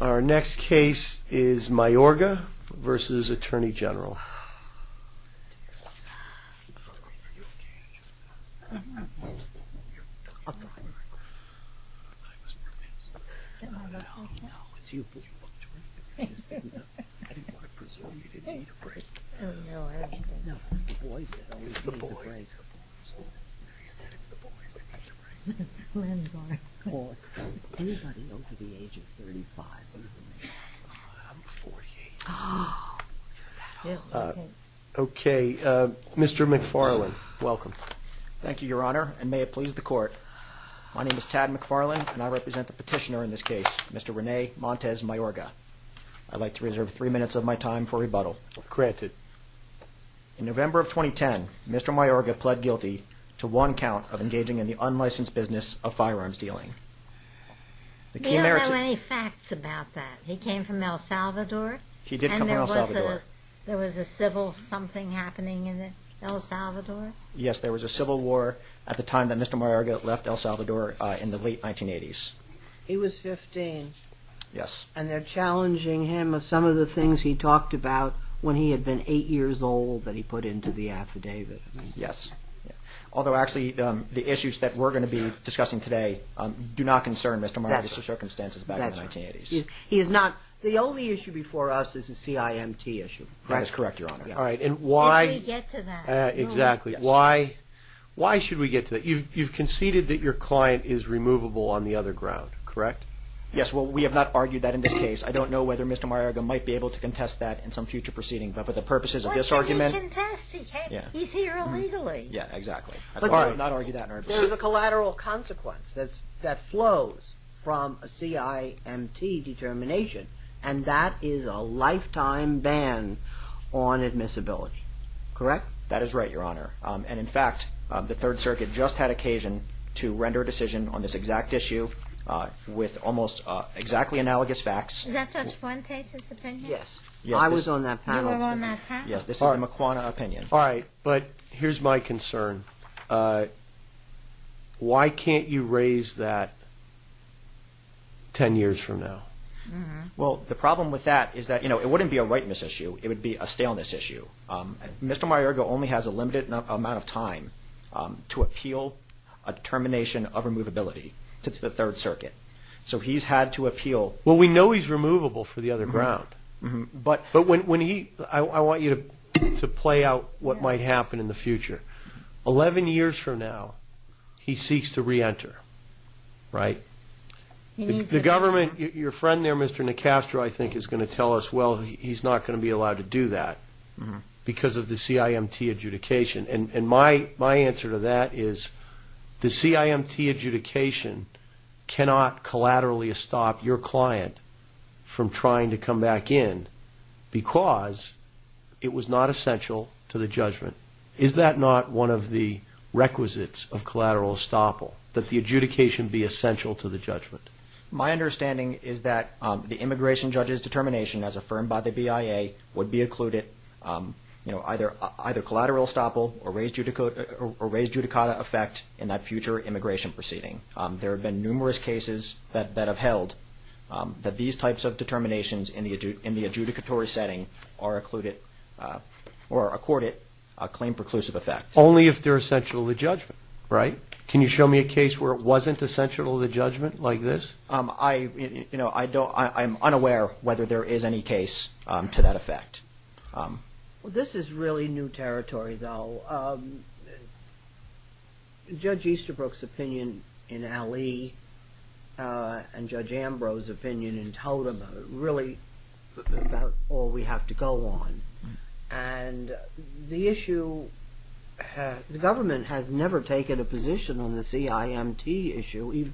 Our next case is Mayorga v. Atty Gen USA Mr. McFarlane, welcome. Thank you, Your Honor, and may it please the court. My name is Tad McFarlane and I represent the petitioner in this case, Mr. Rene Montez Mayorga. I'd like to reserve three minutes of my time for rebuttal. Granted. In November of 2010, Mr. Mayorga pled guilty to one count of engaging in the unlicensed business of firearms dealing. We don't have any facts about that. He came from El Salvador? He did come from El Salvador. There was a civil something happening in El Salvador? Yes, there was a civil war at the time that Mr. Mayorga left El Salvador in the late 1980s. He was 15. Yes. And they're challenging him of some of the things he talked about when he had been eight years old that he put into the affidavit. Yes. Although, actually, the issues that we're going to be discussing today do not concern Mr. Mayorga's circumstances back in the 1980s. The only issue before us is the CIMT issue, correct? That is correct, Your Honor. Why should we get to that? You've conceded that your client is removable on the other ground, correct? Yes, well, we have not argued that in this case. I don't know whether Mr. Mayorga might be able to contest that in some future proceeding, but for the purposes of this argument... Why shouldn't he contest? He's here illegally. Yes, exactly. I do not argue that in our opinion. There's a collateral consequence that flows from a CIMT determination, and that is a lifetime ban on admissibility, correct? That is right, Your Honor. And, in fact, the Third Circuit just had occasion to render a decision on this exact issue with almost exactly analogous facts. Is that Judge Fuentes' opinion? Yes. I was on that panel. You were on that panel? Yes, this is the McCuana opinion. All right, but here's my concern. Why can't you raise that 10 years from now? Well, the problem with that is that, you know, it wouldn't be a whiteness issue. It would be a staleness issue. Mr. Mayorga only has a limited amount of time to appeal a determination of removability to the Third Circuit. So he's had to appeal... Well, we know he's removable for the other ground, but I want you to play out what might happen in the future. Eleven years from now, he seeks to re-enter, right? The government, your friend there, Mr. Nicastro, I think is going to tell us, well, he's not going to be allowed to do that because of the CIMT adjudication. And my answer to that is the your client from trying to come back in because it was not essential to the judgment. Is that not one of the requisites of collateral estoppel, that the adjudication be essential to the judgment? My understanding is that the immigration judge's determination, as affirmed by the BIA, would be included, you know, either collateral estoppel or raised judicata effect in that future immigration proceeding. There have been numerous cases that have held that these types of determinations in the adjudicatory setting are accorded a claim preclusive effect. Only if they're essential to the judgment, right? Can you show me a case where it wasn't essential to the judgment like this? I, you know, I don't, I'm unaware whether there is any case to that effect. Well, this is really new territory, though. Judge Easterbrook's opinion in Alley and Judge Ambrose's opinion in Totem are really about all we have to go on. And the issue, the government has never taken a position on the CIMT issue.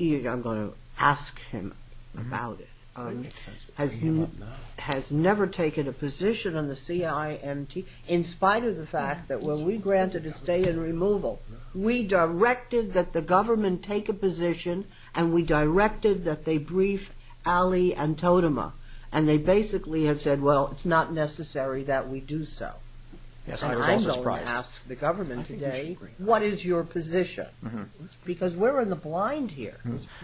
I'm going to ask him about it. Has never taken a position on the CIMT, in spite of the fact that what we granted is stay in removal. We directed that the government take a position and we directed that they brief Alley and Totema. And they basically have said, well, it's not necessary that we do so. I'm going to ask the government today, what is your position? Because we're in the blind here.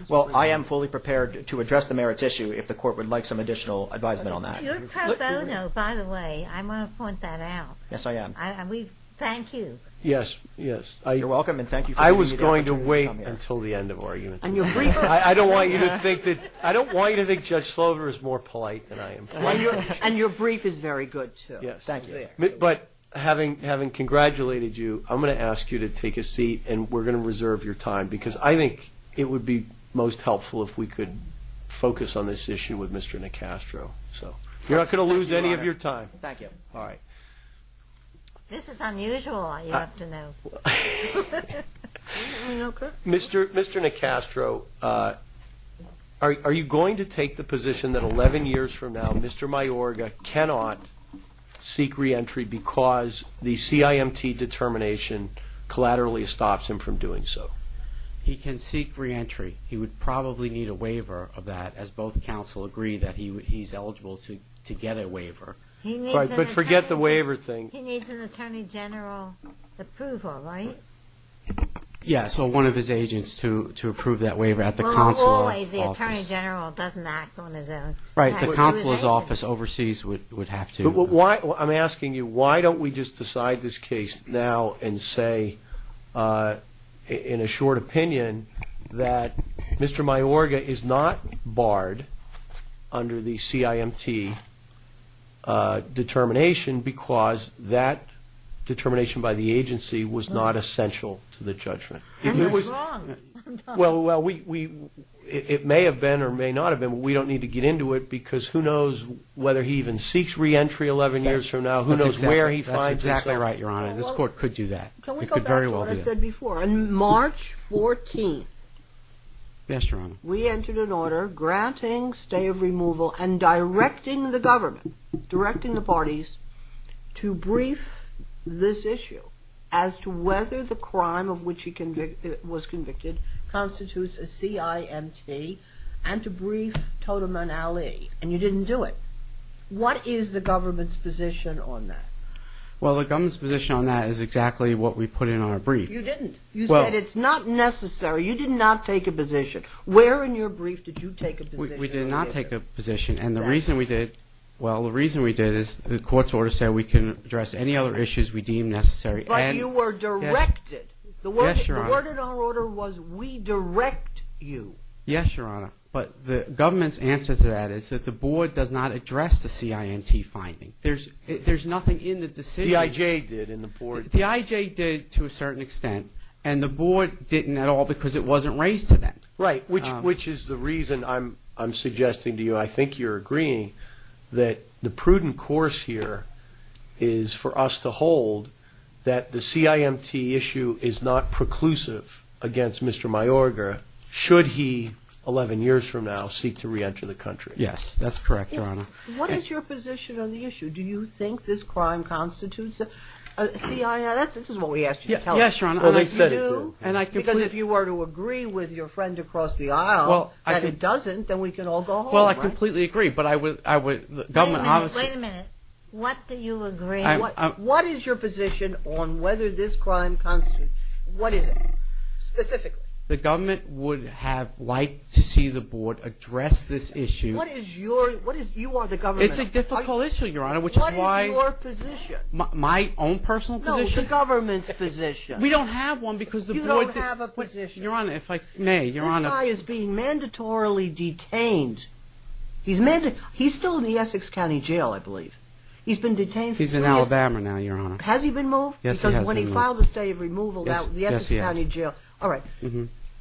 Well, I am fully prepared to address the merits issue if the court would like some additional advisement on that. You're pro bono, by the way. I want to point that out. Yes, I am. Thank you. Yes, yes. You're welcome and thank you. I was going to wait until the end of argument. I don't want you to think that, I don't want you to think Judge Slover is more polite than I am. And your brief is very good, too. Yes, thank you. But having congratulated you, I'm going to ask you to take a seat and we're going to reserve your time. Because I think it would be most helpful if we could focus on this issue with Mr. Nicastro. You're not going to lose any of your time. Thank you. All right. This is unusual, you have to know. Mr. Nicastro, are you going to take the position that 11 years from now, Mr. Mayorga cannot seek reentry because the CIMT determination collaterally stops him from doing so? He can seek reentry. He would probably need a waiver of that, as both counsel agree that he's eligible to get a waiver. But forget the waiver thing. He needs an attorney general approval, right? Yeah, so one of his agents to approve that waiver at the consular office. Well, not always. The attorney general doesn't act on his own. Right, the consular's office overseas would have to. I'm asking you, why don't we just decide this case now and say, in a short opinion, that Mr. Mayorga is not barred under the CIMT determination because that determination by the agency was not essential to the judgment? And that's wrong. Well, it may have been or may not have been, but we don't need to get into it, because who knows whether he even seeks reentry 11 years from now, who knows where he finds himself. That's exactly right, Your Honor. This Court could do that. It could very well do that. That's what I said before. On March 14th, we entered an order granting stay of removal and directing the government, directing the parties, to brief this issue as to whether the crime of which he was convicted constitutes a CIMT and to brief Toteman Ali, and you didn't do it. What is the government's position on that? Well, the government's position on that is exactly what we put in our brief. You didn't. You said it's not necessary. You did not take a position. Where in your brief did you take a position? We did not take a position, and the reason we did, well, the reason we did is the Court's order said we can address any other issues we deem necessary. But you were directed. Yes, Your Honor. The word in our order was we direct you. Yes, Your Honor, but the government's answer to that is that the Board does not address the CIMT finding. There's nothing in the decision. The IJ did in the Board. The IJ did to a certain extent, and the Board didn't at all because it wasn't raised to that. Right, which is the reason I'm suggesting to you, I think you're agreeing, that the prudent course here is for us to hold that the CIMT issue is not preclusive against Mr. Mayorga should he, 11 years from now, seek to reenter the country. Yes, that's correct, Your Honor. What is your position on the issue? Do you think this crime constitutes a CIMT? This is what we asked you to tell us. Yes, Your Honor. Because if you were to agree with your friend across the aisle that it doesn't, then we can all go home, right? Well, I completely agree, but the government obviously Wait a minute. What do you agree? What is your position on whether this crime constitutes, what is it, specifically? The government would have liked to see the Board address this issue. You are the government. It's a difficult issue, Your Honor, which is why What is your position? My own personal position? No, the government's position. We don't have one because the Board You don't have a position. Your Honor, if I may, Your Honor This guy is being mandatorily detained. He's still in the Essex County Jail, I believe. He's been detained for three years. He's in Alabama now, Your Honor. Has he been moved? Yes, he has been moved. Because when he filed the state of removal, that was the Essex County Jail. All right.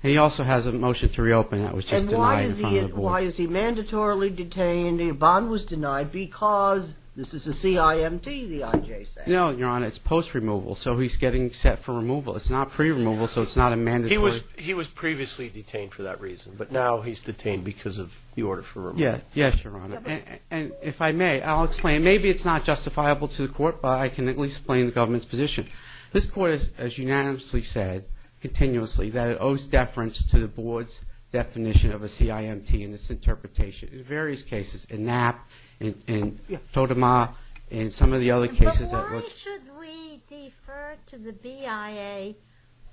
He also has a motion to reopen that was just denied in front of the Board. Why is he mandatorily detained? A bond was denied because this is a CIMT, the IJ says. No, Your Honor, it's post-removal, so he's getting set for removal. It's not pre-removal, so it's not a mandatory He was previously detained for that reason, but now he's detained because of the order for removal. Yes, Your Honor. And if I may, I'll explain. Maybe it's not justifiable to the Court, but I can at least explain the government's position. This Court has unanimously said, continuously, that it owes deference to the Board's definition of a CIMT and its interpretation in various cases, in Knapp, in Totema, in some of the other cases. But why should we defer to the BIA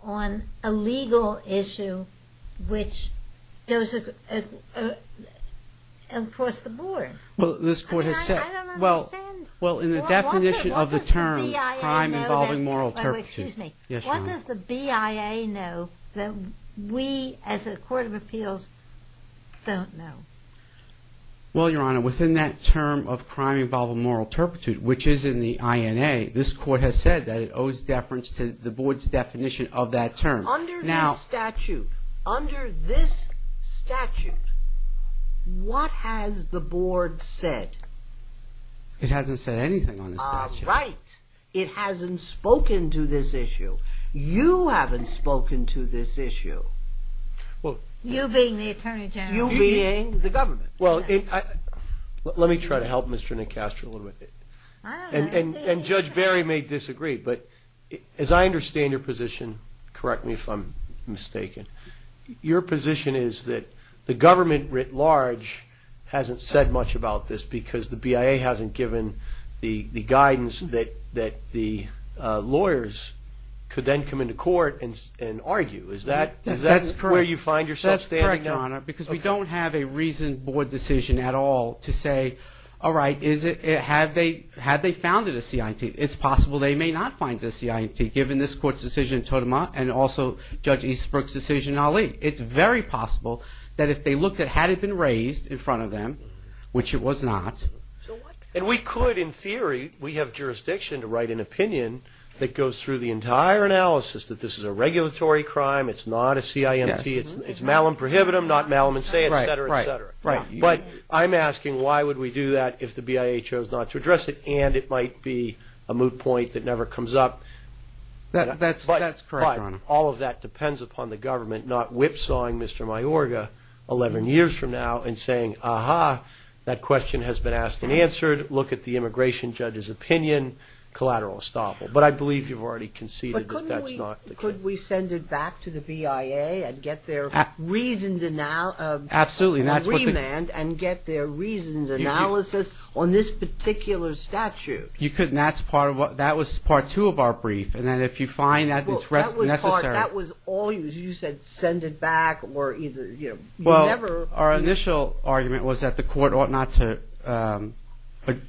on a legal issue which goes across the Board? I don't understand. What does the BIA know that we, as a Court of Appeals, don't know? Well, Your Honor, within that term of crime involving moral turpitude, which is in the INA, this Court has said that it owes deference to the Board's definition of that term. Under this statute, what has the Board said? It hasn't said anything on the statute. All right. It hasn't spoken to this issue. You haven't spoken to this issue. You being the Attorney General. You being the government. Well, let me try to help Mr. Nicastro a little bit. And Judge Barry may disagree, but as I understand your position, correct me if I'm mistaken, your position is that the government writ large hasn't said much about this because the BIA hasn't given the guidance that the lawyers could then come into court and argue. Is that where you find yourself standing? That's correct, Your Honor, because we don't have a reasoned Board decision at all to say, all right, had they founded a CIT, it's possible they may not find a CIT, given this Court's decision in Totema and also Judge Eastbrook's decision in Ali. It's very possible that if they looked at had it been raised in front of them, which it was not. And we could, in theory, we have jurisdiction to write an opinion that goes through the entire analysis, that this is a regulatory crime, it's not a CIMT, it's malum prohibitum, not malum in se, et cetera, et cetera. But I'm asking why would we do that if the BIA chose not to address it and it might be a moot point that never comes up. That's correct, Your Honor. But all of that depends upon the government not whipsawing Mr. Mayorga 11 years from now and saying, aha, that question has been asked and answered, look at the immigration judge's opinion, collateral estoppel. But I believe you've already conceded that that's not the case. But couldn't we send it back to the BIA and get their reasoned remand and get their reasoned analysis on this particular statute? You couldn't. That's part of what, that was part two of our brief. And then if you find that it's necessary. Well, that was part, that was all you, you said send it back or either, you know, you never. Well, our initial argument was that the court ought not to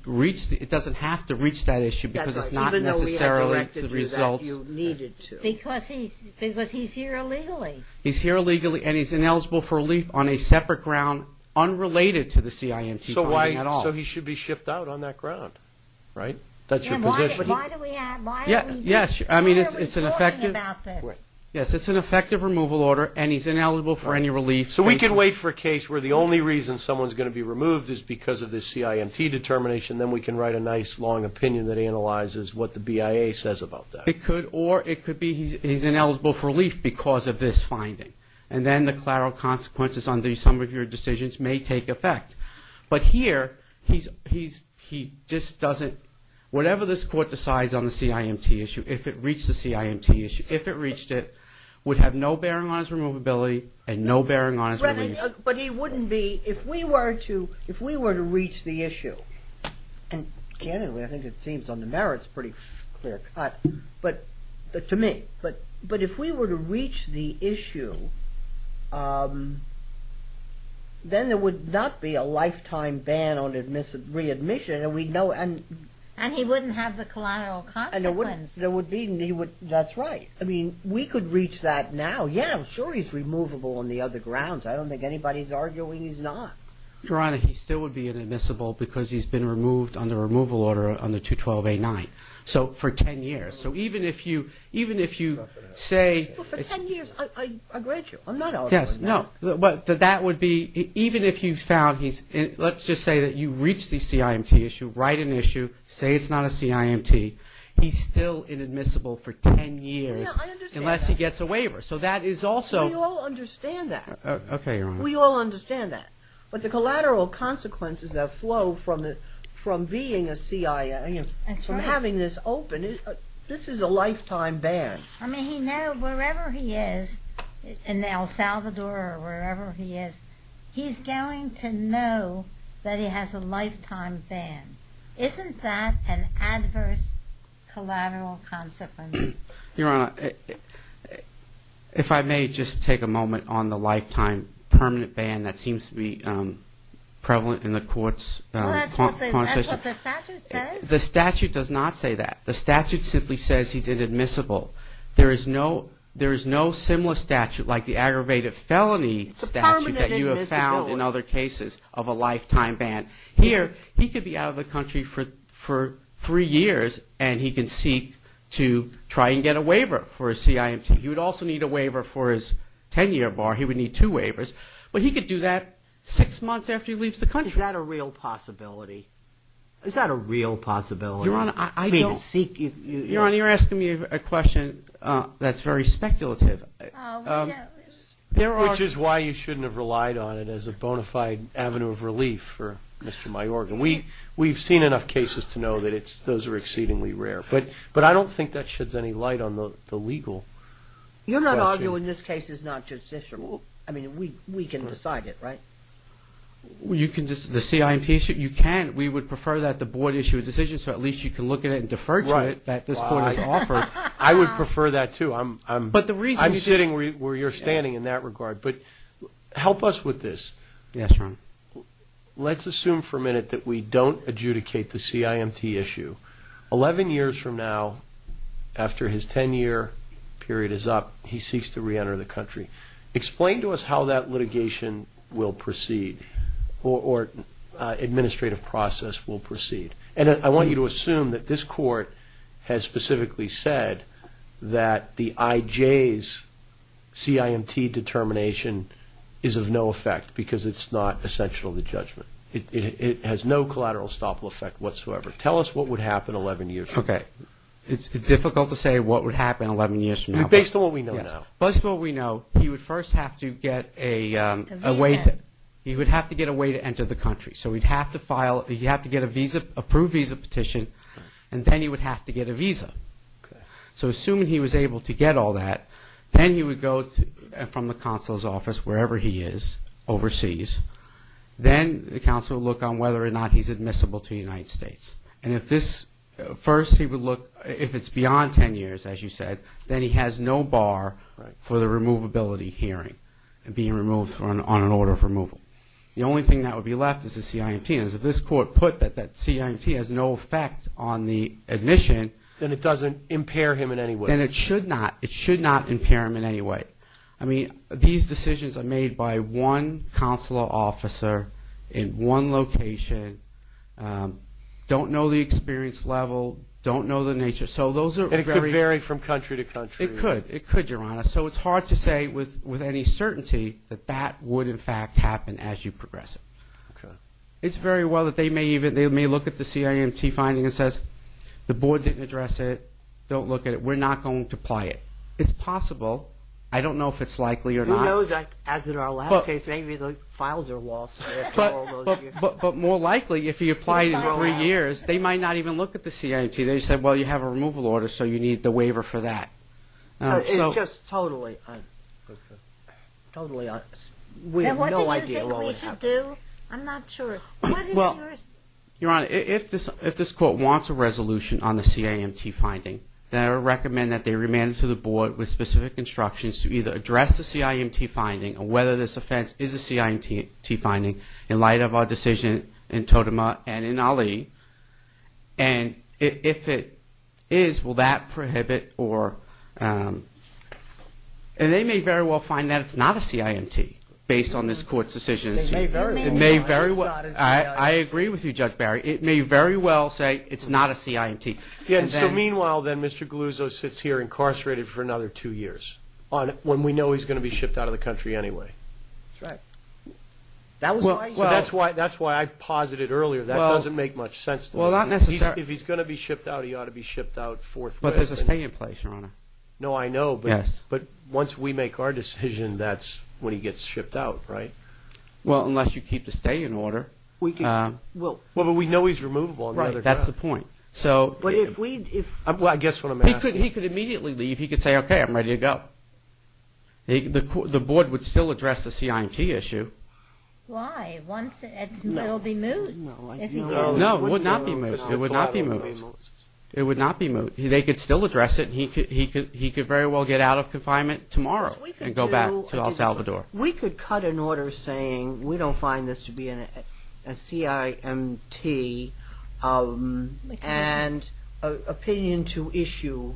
reach, it doesn't have to reach that issue because it's not necessarily the results. That's right, even though we had directed you that you needed to. Because he's here illegally. He's here illegally and he's ineligible for relief on a separate ground unrelated to the CIMT. So why, so he should be shipped out on that ground, right? That's your position. Why do we have, why are we doing, why are we talking about this? Yes, it's an effective removal order and he's ineligible for any relief. So we can wait for a case where the only reason someone's going to be removed is because of this CIMT determination, then we can write a nice long opinion that analyzes what the BIA says about that. It could, or it could be he's ineligible for relief because of this finding. And then the collateral consequences under some of your decisions may take effect. But here, he just doesn't, whatever this court decides on the CIMT issue, if it reached the CIMT issue, if it reached it, would have no bearing on his removability and no bearing on his relief. But he wouldn't be, if we were to, if we were to reach the issue, and candidly, I think it seems on the merits, pretty clear cut, but to me, but if we were to reach the issue, then there would not be a lifetime ban on readmission and we'd know. And he wouldn't have the collateral consequences. There would be, and he would, that's right. I mean, we could reach that now. Yeah, I'm sure he's removable on the other grounds. I don't think anybody's arguing he's not. Your Honor, he still would be inadmissible because he's been removed under removal order under 212A9. So for 10 years. So even if you, even if you say. Well, for 10 years, I agree with you. I'm not arguing that. Yes, no, but that would be, even if you found he's, let's just say that you reached the CIMT issue, write an issue, say it's not a CIMT, he's still inadmissible for 10 years. Yeah, I understand that. Unless he gets a waiver. So that is also. We all understand that. Okay, Your Honor. We all understand that. But the collateral consequences that flow from being a CIMT. That's right. From having this open, this is a lifetime ban. I mean, he knows wherever he is in El Salvador or wherever he is, he's going to know that he has a lifetime ban. Isn't that an adverse collateral consequence? Your Honor, if I may just take a moment on the lifetime permanent ban that seems to be prevalent in the court's. Well, that's what the statute says. The statute does not say that. The statute simply says he's inadmissible. There is no similar statute like the aggravated felony statute that you have found in other cases of a lifetime ban. Here, he could be out of the country for three years and he can seek to try and get a waiver for a CIMT. He would also need a waiver for his 10-year bar. He would need two waivers. But he could do that six months after he leaves the country. Is that a real possibility? Is that a real possibility? Your Honor, I don't. I mean, seek. Your Honor, you're asking me a question that's very speculative. Which is why you shouldn't have relied on it as a bona fide avenue of relief for Mr. Mayorga. We've seen enough cases to know that those are exceedingly rare. But I don't think that sheds any light on the legal question. You're not arguing this case is not judicial? I mean, we can decide it, right? The CIMT issue? You can. We would prefer that the board issue a decision so at least you can look at it and defer to it. Right. I would prefer that, too. I'm sitting where you're standing in that regard. But help us with this. Yes, Your Honor. Let's assume for a minute that we don't adjudicate the CIMT issue. Eleven years from now, after his 10-year period is up, he seeks to reenter the country. Explain to us how that litigation will proceed or administrative process will proceed. And I want you to assume that this Court has specifically said that the IJ's CIMT determination is of no effect because it's not essential to judgment. It has no collateral stoppable effect whatsoever. Tell us what would happen 11 years from now. Okay. It's difficult to say what would happen 11 years from now. Based on what we know now. Based on what we know, he would first have to get a way to enter the country. So he'd have to file, he'd have to get a visa, approved visa petition, and then he would have to get a visa. Okay. So assuming he was able to get all that, then he would go from the Counsel's Office, wherever he is, overseas. Then the Counsel would look on whether or not he's admissible to the United States. And if this, first he would look, if it's beyond 10 years, as you said, then he has no bar for the removability hearing and being removed on an order of removal. The only thing that would be left is the CIMT. And as this Court put that that CIMT has no effect on the admission. Then it doesn't impair him in any way. Then it should not. It should not impair him in any way. I mean, these decisions are made by one Counselor Officer in one location, don't know the experience level, don't know the nature. So those are very. And it could vary from country to country. It could. It could, Your Honor. So it's hard to say with any certainty that that would, in fact, happen as you progress it. Okay. It's very well that they may even, they may look at the CIMT finding and says, the Board didn't address it, don't look at it, we're not going to apply it. It's possible. I don't know if it's likely or not. Who knows, as in our last case, maybe the files are lost after all those years. But more likely, if you apply it in three years, they might not even look at the CIMT. They said, well, you have a removal order, so you need the waiver for that. It's just totally, totally, we have no idea what would happen. And what do you think we should do? I'm not sure. Well, Your Honor, if this Court wants a resolution on the CIMT finding, then I would recommend that they remand it to the Board with specific instructions to either address the CIMT finding or whether this offense is a CIMT finding in light of our decision in Totema and in Ali. And if it is, will that prohibit or they may very well find that it's not a CIMT based on this Court's decision. It may very well. It may very well. I agree with you, Judge Barry. It may very well say it's not a CIMT. So, meanwhile, then, Mr. Galuzzo sits here incarcerated for another two years when we know he's going to be shipped out of the country anyway. That's right. That was the reason. Well, that's why I posited earlier. That doesn't make much sense to me. Well, not necessarily. If he's going to be shipped out, he ought to be shipped out forthwith. But there's a stay in place, Your Honor. No, I know. Yes. But once we make our decision, that's when he gets shipped out, right? Well, unless you keep the stay in order. Well, but we know he's removable. Right. That's the point. Well, I guess what I'm asking is. He could immediately leave. He could say, okay, I'm ready to go. The Board would still address the CIMT issue. Why? It would be moot. No, it would not be moot. It would not be moot. It would not be moot. They could still address it. He could very well get out of confinement tomorrow and go back to El Salvador. We could cut an order saying we don't find this to be a CIMT and opinion to issue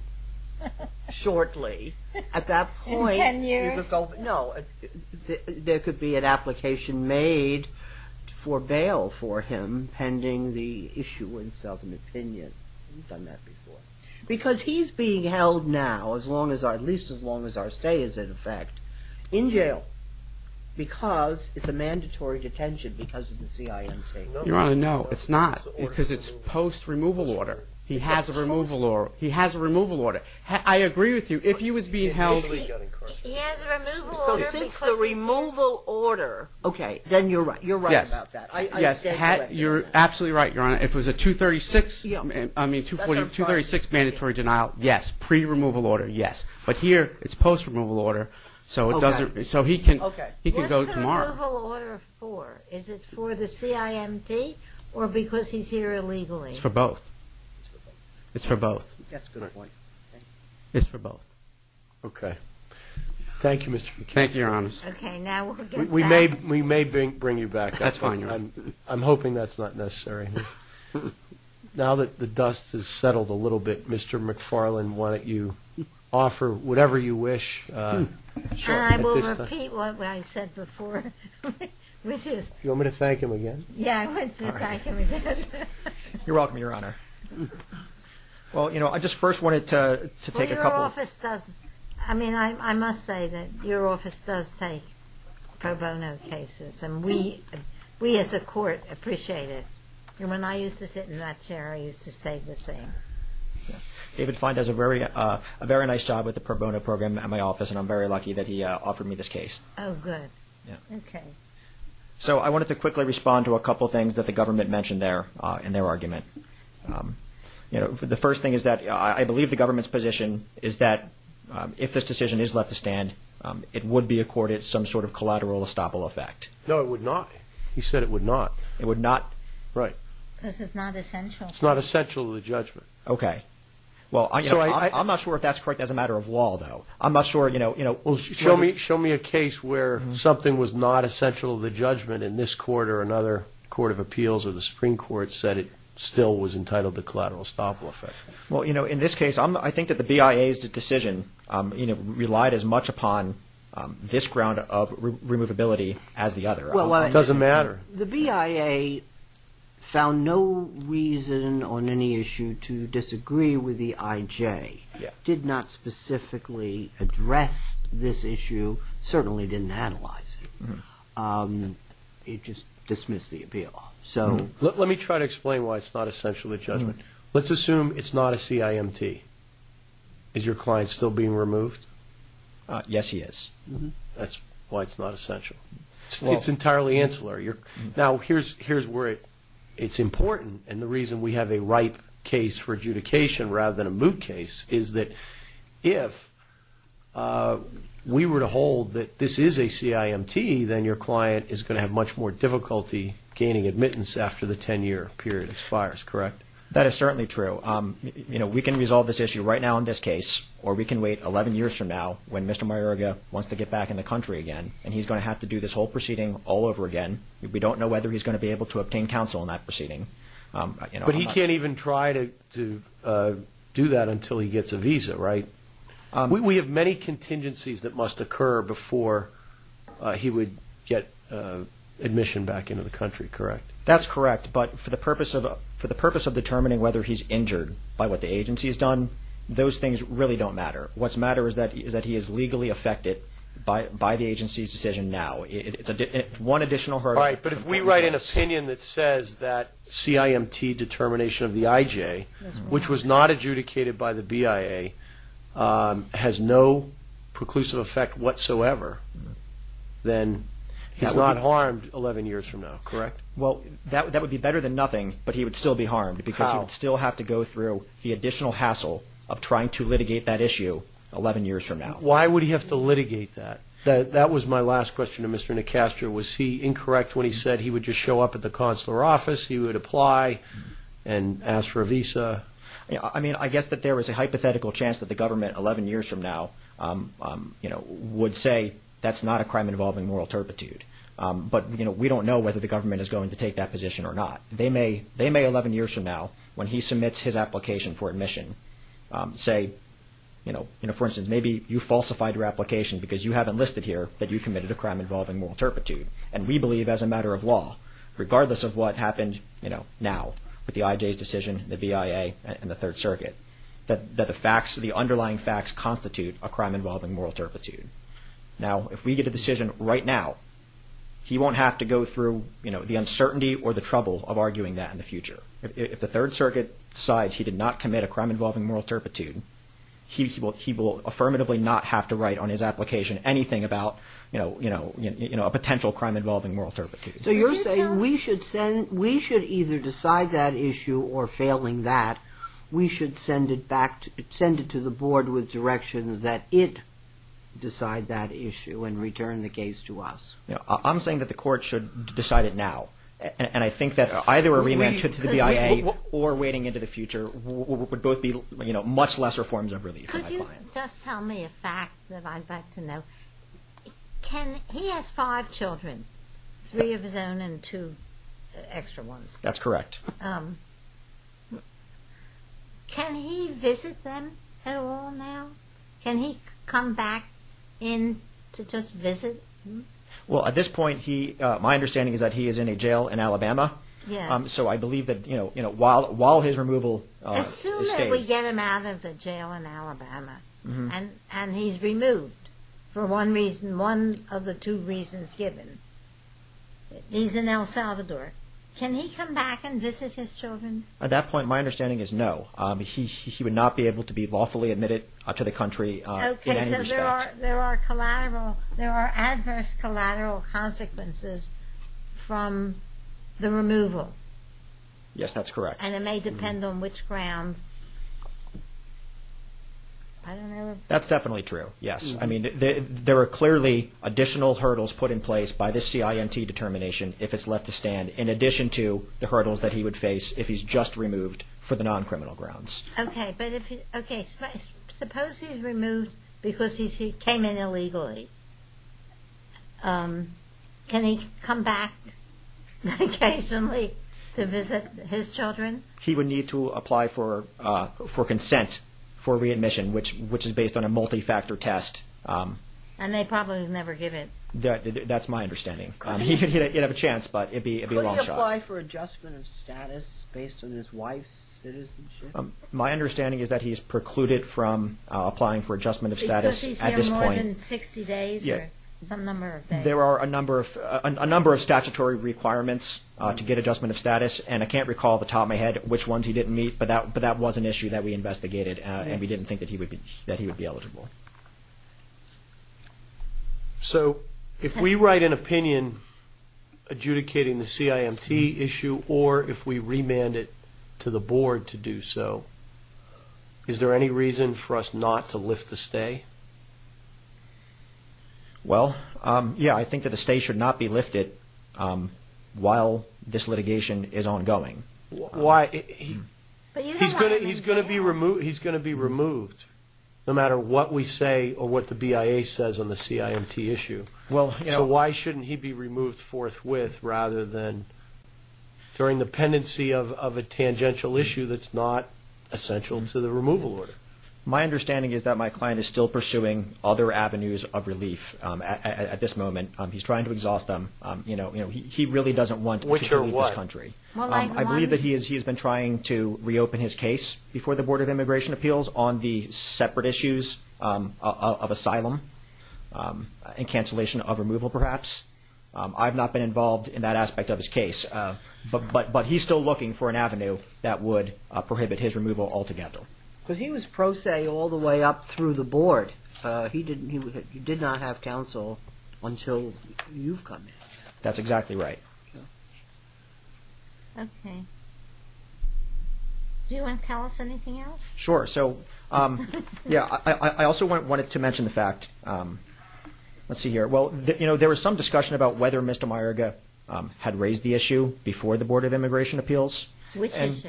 shortly. In ten years? No, there could be an application made for bail for him pending the issuance of an opinion. We've done that before. Because he's being held now, at least as long as our stay is in effect, in jail. Because it's a mandatory detention because of the CIMT. Your Honor, no, it's not because it's post-removal order. He has a removal order. I agree with you. If he was being held... He has a removal order because... Since the removal order... Okay, then you're right. You're right about that. Yes, you're absolutely right, Your Honor. If it was a 236 mandatory denial, yes, pre-removal order, yes. But here, it's post-removal order, so he can go tomorrow. What's the removal order for? Is it for the CIMT or because he's here illegally? It's for both. It's for both. That's a good point. It's for both. Okay. Thank you, Mr. McFarland. Thank you, Your Honor. Okay, now we'll get back... We may bring you back. That's fine, Your Honor. I'm hoping that's not necessary. Now that the dust has settled a little bit, Mr. McFarland, why don't you offer whatever you wish? I will repeat what I said before, which is... You want me to thank him again? Yeah, I want you to thank him again. You're welcome, Your Honor. Well, you know, I just first wanted to take a couple... Well, your office does... I mean, I must say that your office does take pro bono cases, and we as a court appreciate it. And when I used to sit in that chair, I used to say the same. David Fyne does a very nice job with the pro bono program at my office, and I'm very lucky that he offered me this case. Oh, good. Okay. So I wanted to quickly respond to a couple of things that the government mentioned there in their argument. The first thing is that I believe the government's position is that if this decision is left to stand, it would be accorded some sort of collateral estoppel effect. No, it would not. He said it would not. It would not? Right. Because it's not essential. It's not essential to the judgment. Okay. Well, I'm not sure if that's correct as a matter of law, though. I'm not sure, you know... Well, show me a case where something was not essential to the judgment and this court or another court of appeals or the Supreme Court said it still was entitled to collateral estoppel effect. Well, you know, in this case, I think that the BIA's decision, you know, relied as much upon this ground of removability as the other. Well, I... It doesn't matter. The BIA found no reason on any issue to disagree with the IJ, did not specifically address this issue, certainly didn't analyze it. It just dismissed the appeal. So... Let me try to explain why it's not essential to the judgment. Let's assume it's not a CIMT. Is your client still being removed? Yes, he is. That's why it's not essential. It's entirely ancillary. Now, here's where it's important, and the reason we have a ripe case for adjudication rather than a moot case is that if we were to hold that this is a CIMT, then your client is going to have much more difficulty gaining admittance after the 10-year period expires, correct? That is certainly true. You know, we can resolve this issue right now in this case or we can wait 11 years from now when Mr. Mayorga wants to get back in the country again and he's going to have to do this whole proceeding all over again. We don't know whether he's going to be able to obtain counsel in that proceeding. But he can't even try to do that until he gets a visa, right? We have many contingencies that must occur before he would get admission back into the country, correct? That's correct. But for the purpose of determining whether he's injured by what the agency has done, those things really don't matter. What's matter is that he is legally affected by the agency's decision now. All right, but if we write an opinion that says that CIMT determination of the IJ, which was not adjudicated by the BIA, has no preclusive effect whatsoever, then he's not harmed 11 years from now, correct? Well, that would be better than nothing, but he would still be harmed because he would still have to go through the additional hassle of trying to litigate that issue 11 years from now. Why would he have to litigate that? That was my last question to Mr. Nicastro. Was he incorrect when he said he would just show up at the consular office, he would apply and ask for a visa? I mean, I guess that there is a hypothetical chance that the government 11 years from now would say that's not a crime involving moral turpitude. But we don't know whether the government is going to take that position or not. They may 11 years from now, when he submits his application for admission, say, for instance, maybe you falsified your application because you haven't listed here that you committed a crime involving moral turpitude. And we believe as a matter of law, regardless of what happened now with the IJ's decision, the BIA, and the Third Circuit, that the underlying facts constitute a crime involving moral turpitude. Now, if we get a decision right now, he won't have to go through the uncertainty If the Third Circuit decides he did not commit a crime involving moral turpitude, he will affirmatively not have to write on his application anything about, you know, a potential crime involving moral turpitude. So you're saying we should either decide that issue or, failing that, we should send it to the board with directions that it decide that issue and return the case to us? I'm saying that the court should decide it now. And I think that either a remand to the BIA or waiting into the future would both be much lesser forms of relief for my client. Could you just tell me a fact that I'd like to know? He has five children, three of his own and two extra ones. That's correct. Can he visit them at all now? Can he come back in to just visit? Well, at this point, my understanding is that he is in a jail in Alabama. So I believe that, you know, while his removal is staged... Assume that we get him out of the jail in Alabama and he's removed for one of the two reasons given. He's in El Salvador. Can he come back and visit his children? At that point, my understanding is no. He would not be able to be lawfully admitted to the country in any respect. Because there are adverse collateral consequences from the removal. Yes, that's correct. And it may depend on which grounds. That's definitely true, yes. I mean, there are clearly additional hurdles put in place by this CIMT determination if it's left to stand, in addition to the hurdles that he would face if he's just removed for the non-criminal grounds. Okay, suppose he's removed because he came in illegally. Can he come back occasionally to visit his children? He would need to apply for consent for readmission, which is based on a multi-factor test. And they probably would never give it. That's my understanding. He'd have a chance, but it'd be a long shot. Can he apply for adjustment of status based on his wife's citizenship? My understanding is that he's precluded from applying for adjustment of status at this point. Because he's here more than 60 days or some number of days. There are a number of statutory requirements to get adjustment of status, and I can't recall off the top of my head which ones he didn't meet. But that was an issue that we investigated, and we didn't think that he would be eligible. So, if we write an opinion adjudicating the CIMT issue, or if we remand it to the board to do so, is there any reason for us not to lift the stay? Well, yeah, I think that the stay should not be lifted while this litigation is ongoing. He's going to be removed no matter what we say or what the BIA says on the CIMT issue. So why shouldn't he be removed forthwith rather than during the pendency of a tangential issue that's not essential to the removal order? My understanding is that my client is still pursuing other avenues of relief at this moment. He's trying to exhaust them. He really doesn't want to leave this country. I believe that he has been trying to reopen his case before the Board of Immigration Appeals on the separate issues of asylum and cancellation of removal, perhaps. I've not been involved in that aspect of his case, but he's still looking for an avenue that would prohibit his removal altogether. Because he was pro se all the way up through the board. He did not have counsel until you've come in. That's exactly right. Okay. Do you want to tell us anything else? Sure. So, yeah, I also wanted to mention the fact, let's see here. Well, you know, there was some discussion about whether Mr. Mayerga had raised the issue before the Board of Immigration Appeals. Which issue?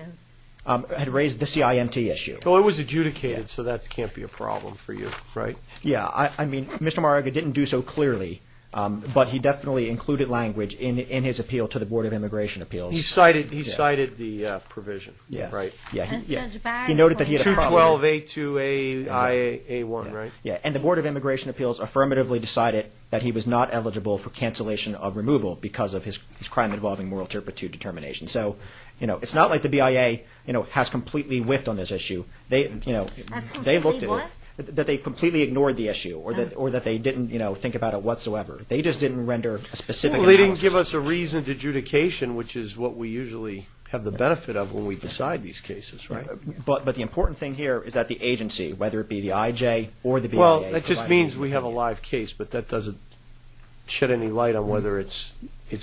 Had raised the CIMT issue. Well, it was adjudicated, so that can't be a problem for you, right? Yeah. I mean, Mr. Mayerga didn't do so clearly, but he definitely included language in his appeal to the Board of Immigration Appeals. He cited the provision, right? Yeah. He noted that he had a problem. 212A2IA1, right? Yeah. And the Board of Immigration Appeals affirmatively decided that he was not eligible for cancellation of removal because of his crime involving moral turpitude determination. So, you know, it's not like the BIA, you know, has completely whiffed on this issue. That's completely what? That they completely ignored the issue or that they didn't, you know, think about it whatsoever. They just didn't render a specific analysis. Well, they didn't give us a reason to adjudication, which is what we usually have the benefit of when we decide these cases, right? But the important thing here is that the agency, whether it be the IJ or the BIA, Well, that just means we have a live case, but that doesn't shed any light on whether it's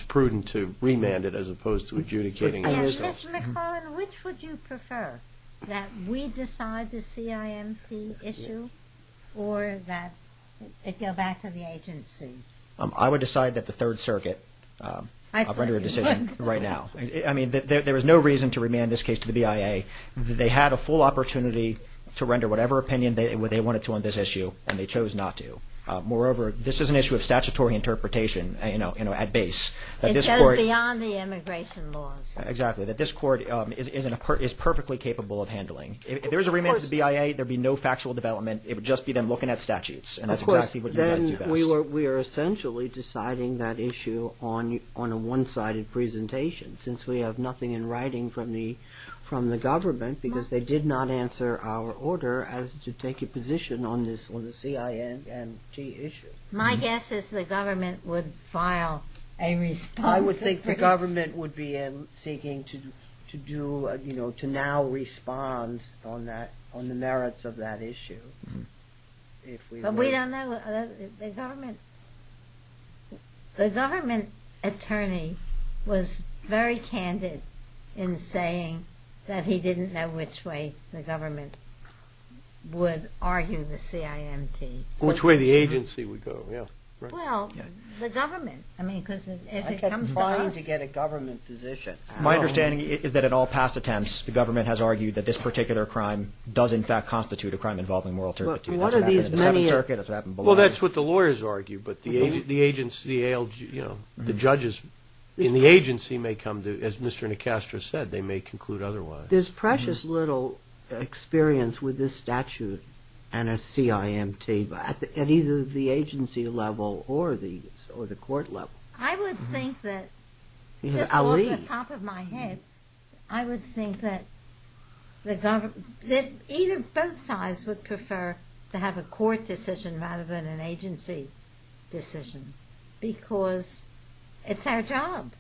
prudent to remand it as opposed to adjudicating it. Mr. McFarland, which would you prefer? That we decide the CIMT issue or that it go back to the agency? I would decide that the Third Circuit render a decision right now. I mean, there is no reason to remand this case to the BIA. They had a full opportunity to render whatever opinion they wanted to on this issue, and they chose not to. Moreover, this is an issue of statutory interpretation, you know, at base. It goes beyond the immigration laws. Exactly, that this court is perfectly capable of handling. If there was a remand to the BIA, there would be no factual development. It would just be them looking at statutes, and that's exactly what you guys do best. Of course, then we are essentially deciding that issue on a one-sided presentation since we have nothing in writing from the government because they did not answer our order as to take a position on the CIMT issue. My guess is the government would file a response. I would think the government would be seeking to do, you know, to now respond on the merits of that issue. But we don't know. The government attorney was very candid in saying that he didn't know which way the government would argue the CIMT. Which way the agency would go, yeah. Well, the government, I mean, because if it comes to us. I kept trying to get a government position. My understanding is that in all past attempts, the government has argued that this particular crime does, in fact, constitute a crime involving moral turpitude. Well, that's what the lawyers argue. But the agency, you know, the judges in the agency may come to, as Mr. Nicastro said, they may conclude otherwise. But there's precious little experience with this statute and a CIMT at either the agency level or the court level. I would think that, just off the top of my head, I would think that either both sides would prefer to have a court decision rather than an agency decision because it's our job.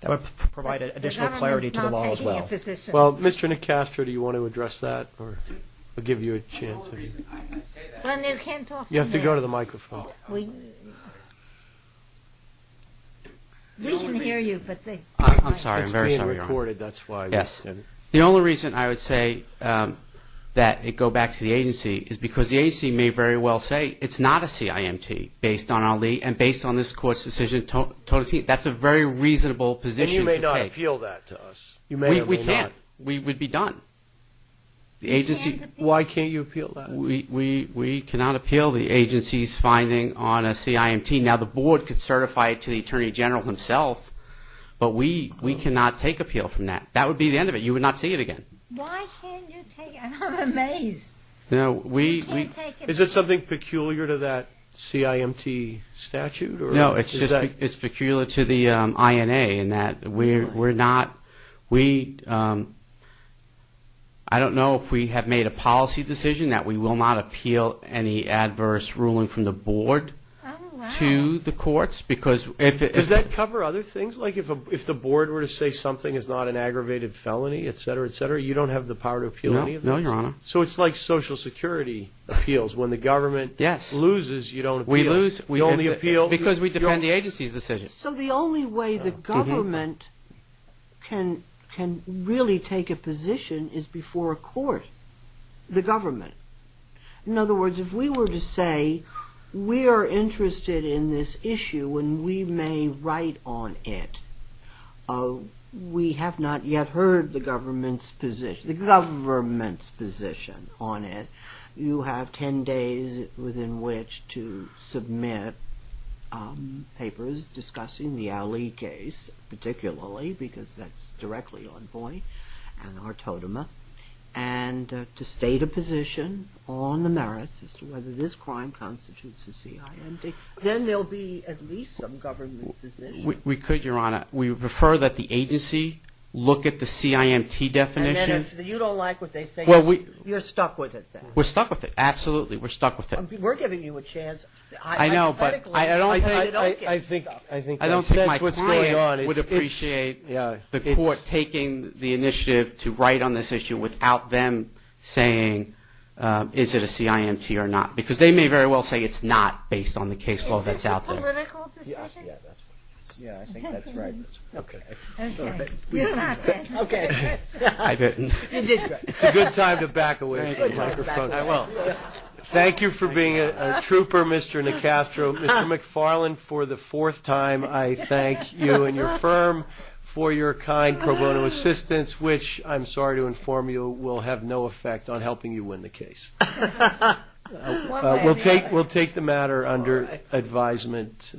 That would provide additional clarity to the law as well. Well, Mr. Nicastro, do you want to address that? I'll give you a chance. You have to go to the microphone. We can hear you. I'm sorry. I'm very sorry, Your Honor. It's being recorded, that's why. Yes. The only reason I would say that it go back to the agency is because the agency may very well say it's not a CIMT based on Ali and based on this court's decision. That's a very reasonable position. And you may not appeal that to us. We can't. We would be done. Why can't you appeal that? We cannot appeal the agency's finding on a CIMT. Now, the Board could certify it to the Attorney General himself, but we cannot take appeal from that. That would be the end of it. You would not see it again. Why can't you take it? I'm amazed. Is it something peculiar to that CIMT statute? No, it's just peculiar to the INA in that we're not – I don't know if we have made a policy decision that we will not appeal any adverse ruling from the Board to the courts. Does that cover other things? Like if the Board were to say something is not an aggravated felony, et cetera, et cetera, you don't have the power to appeal any of those? No, Your Honor. So it's like Social Security appeals. When the government loses, you don't appeal. We lose because we defend the agency's decision. So the only way the government can really take a position is before a court, the government. In other words, if we were to say we are interested in this issue and we may write on it, we have not yet heard the government's position on it. You have 10 days within which to submit papers discussing the Ali case particularly because that's directly on point and our totem. And to state a position on the merits as to whether this crime constitutes a CIMT. Then there will be at least some government position. We could, Your Honor. We prefer that the agency look at the CIMT definition. And then if you don't like what they say, you're stuck with it then? We're stuck with it, absolutely. We're stuck with it. We're giving you a chance. I know, but I don't think my client would appreciate the court taking the initiative to write on this issue without them saying is it a CIMT or not? Because they may very well say it's not based on the case law that's out there. Yeah, I think that's right. Okay. Okay. Okay. It's a good time to back away from the microphone. I will. Thank you for being a trooper, Mr. Nicastro. Mr. McFarland, for the fourth time, I thank you and your firm for your kind pro bono assistance, We'll take the matter under advisement.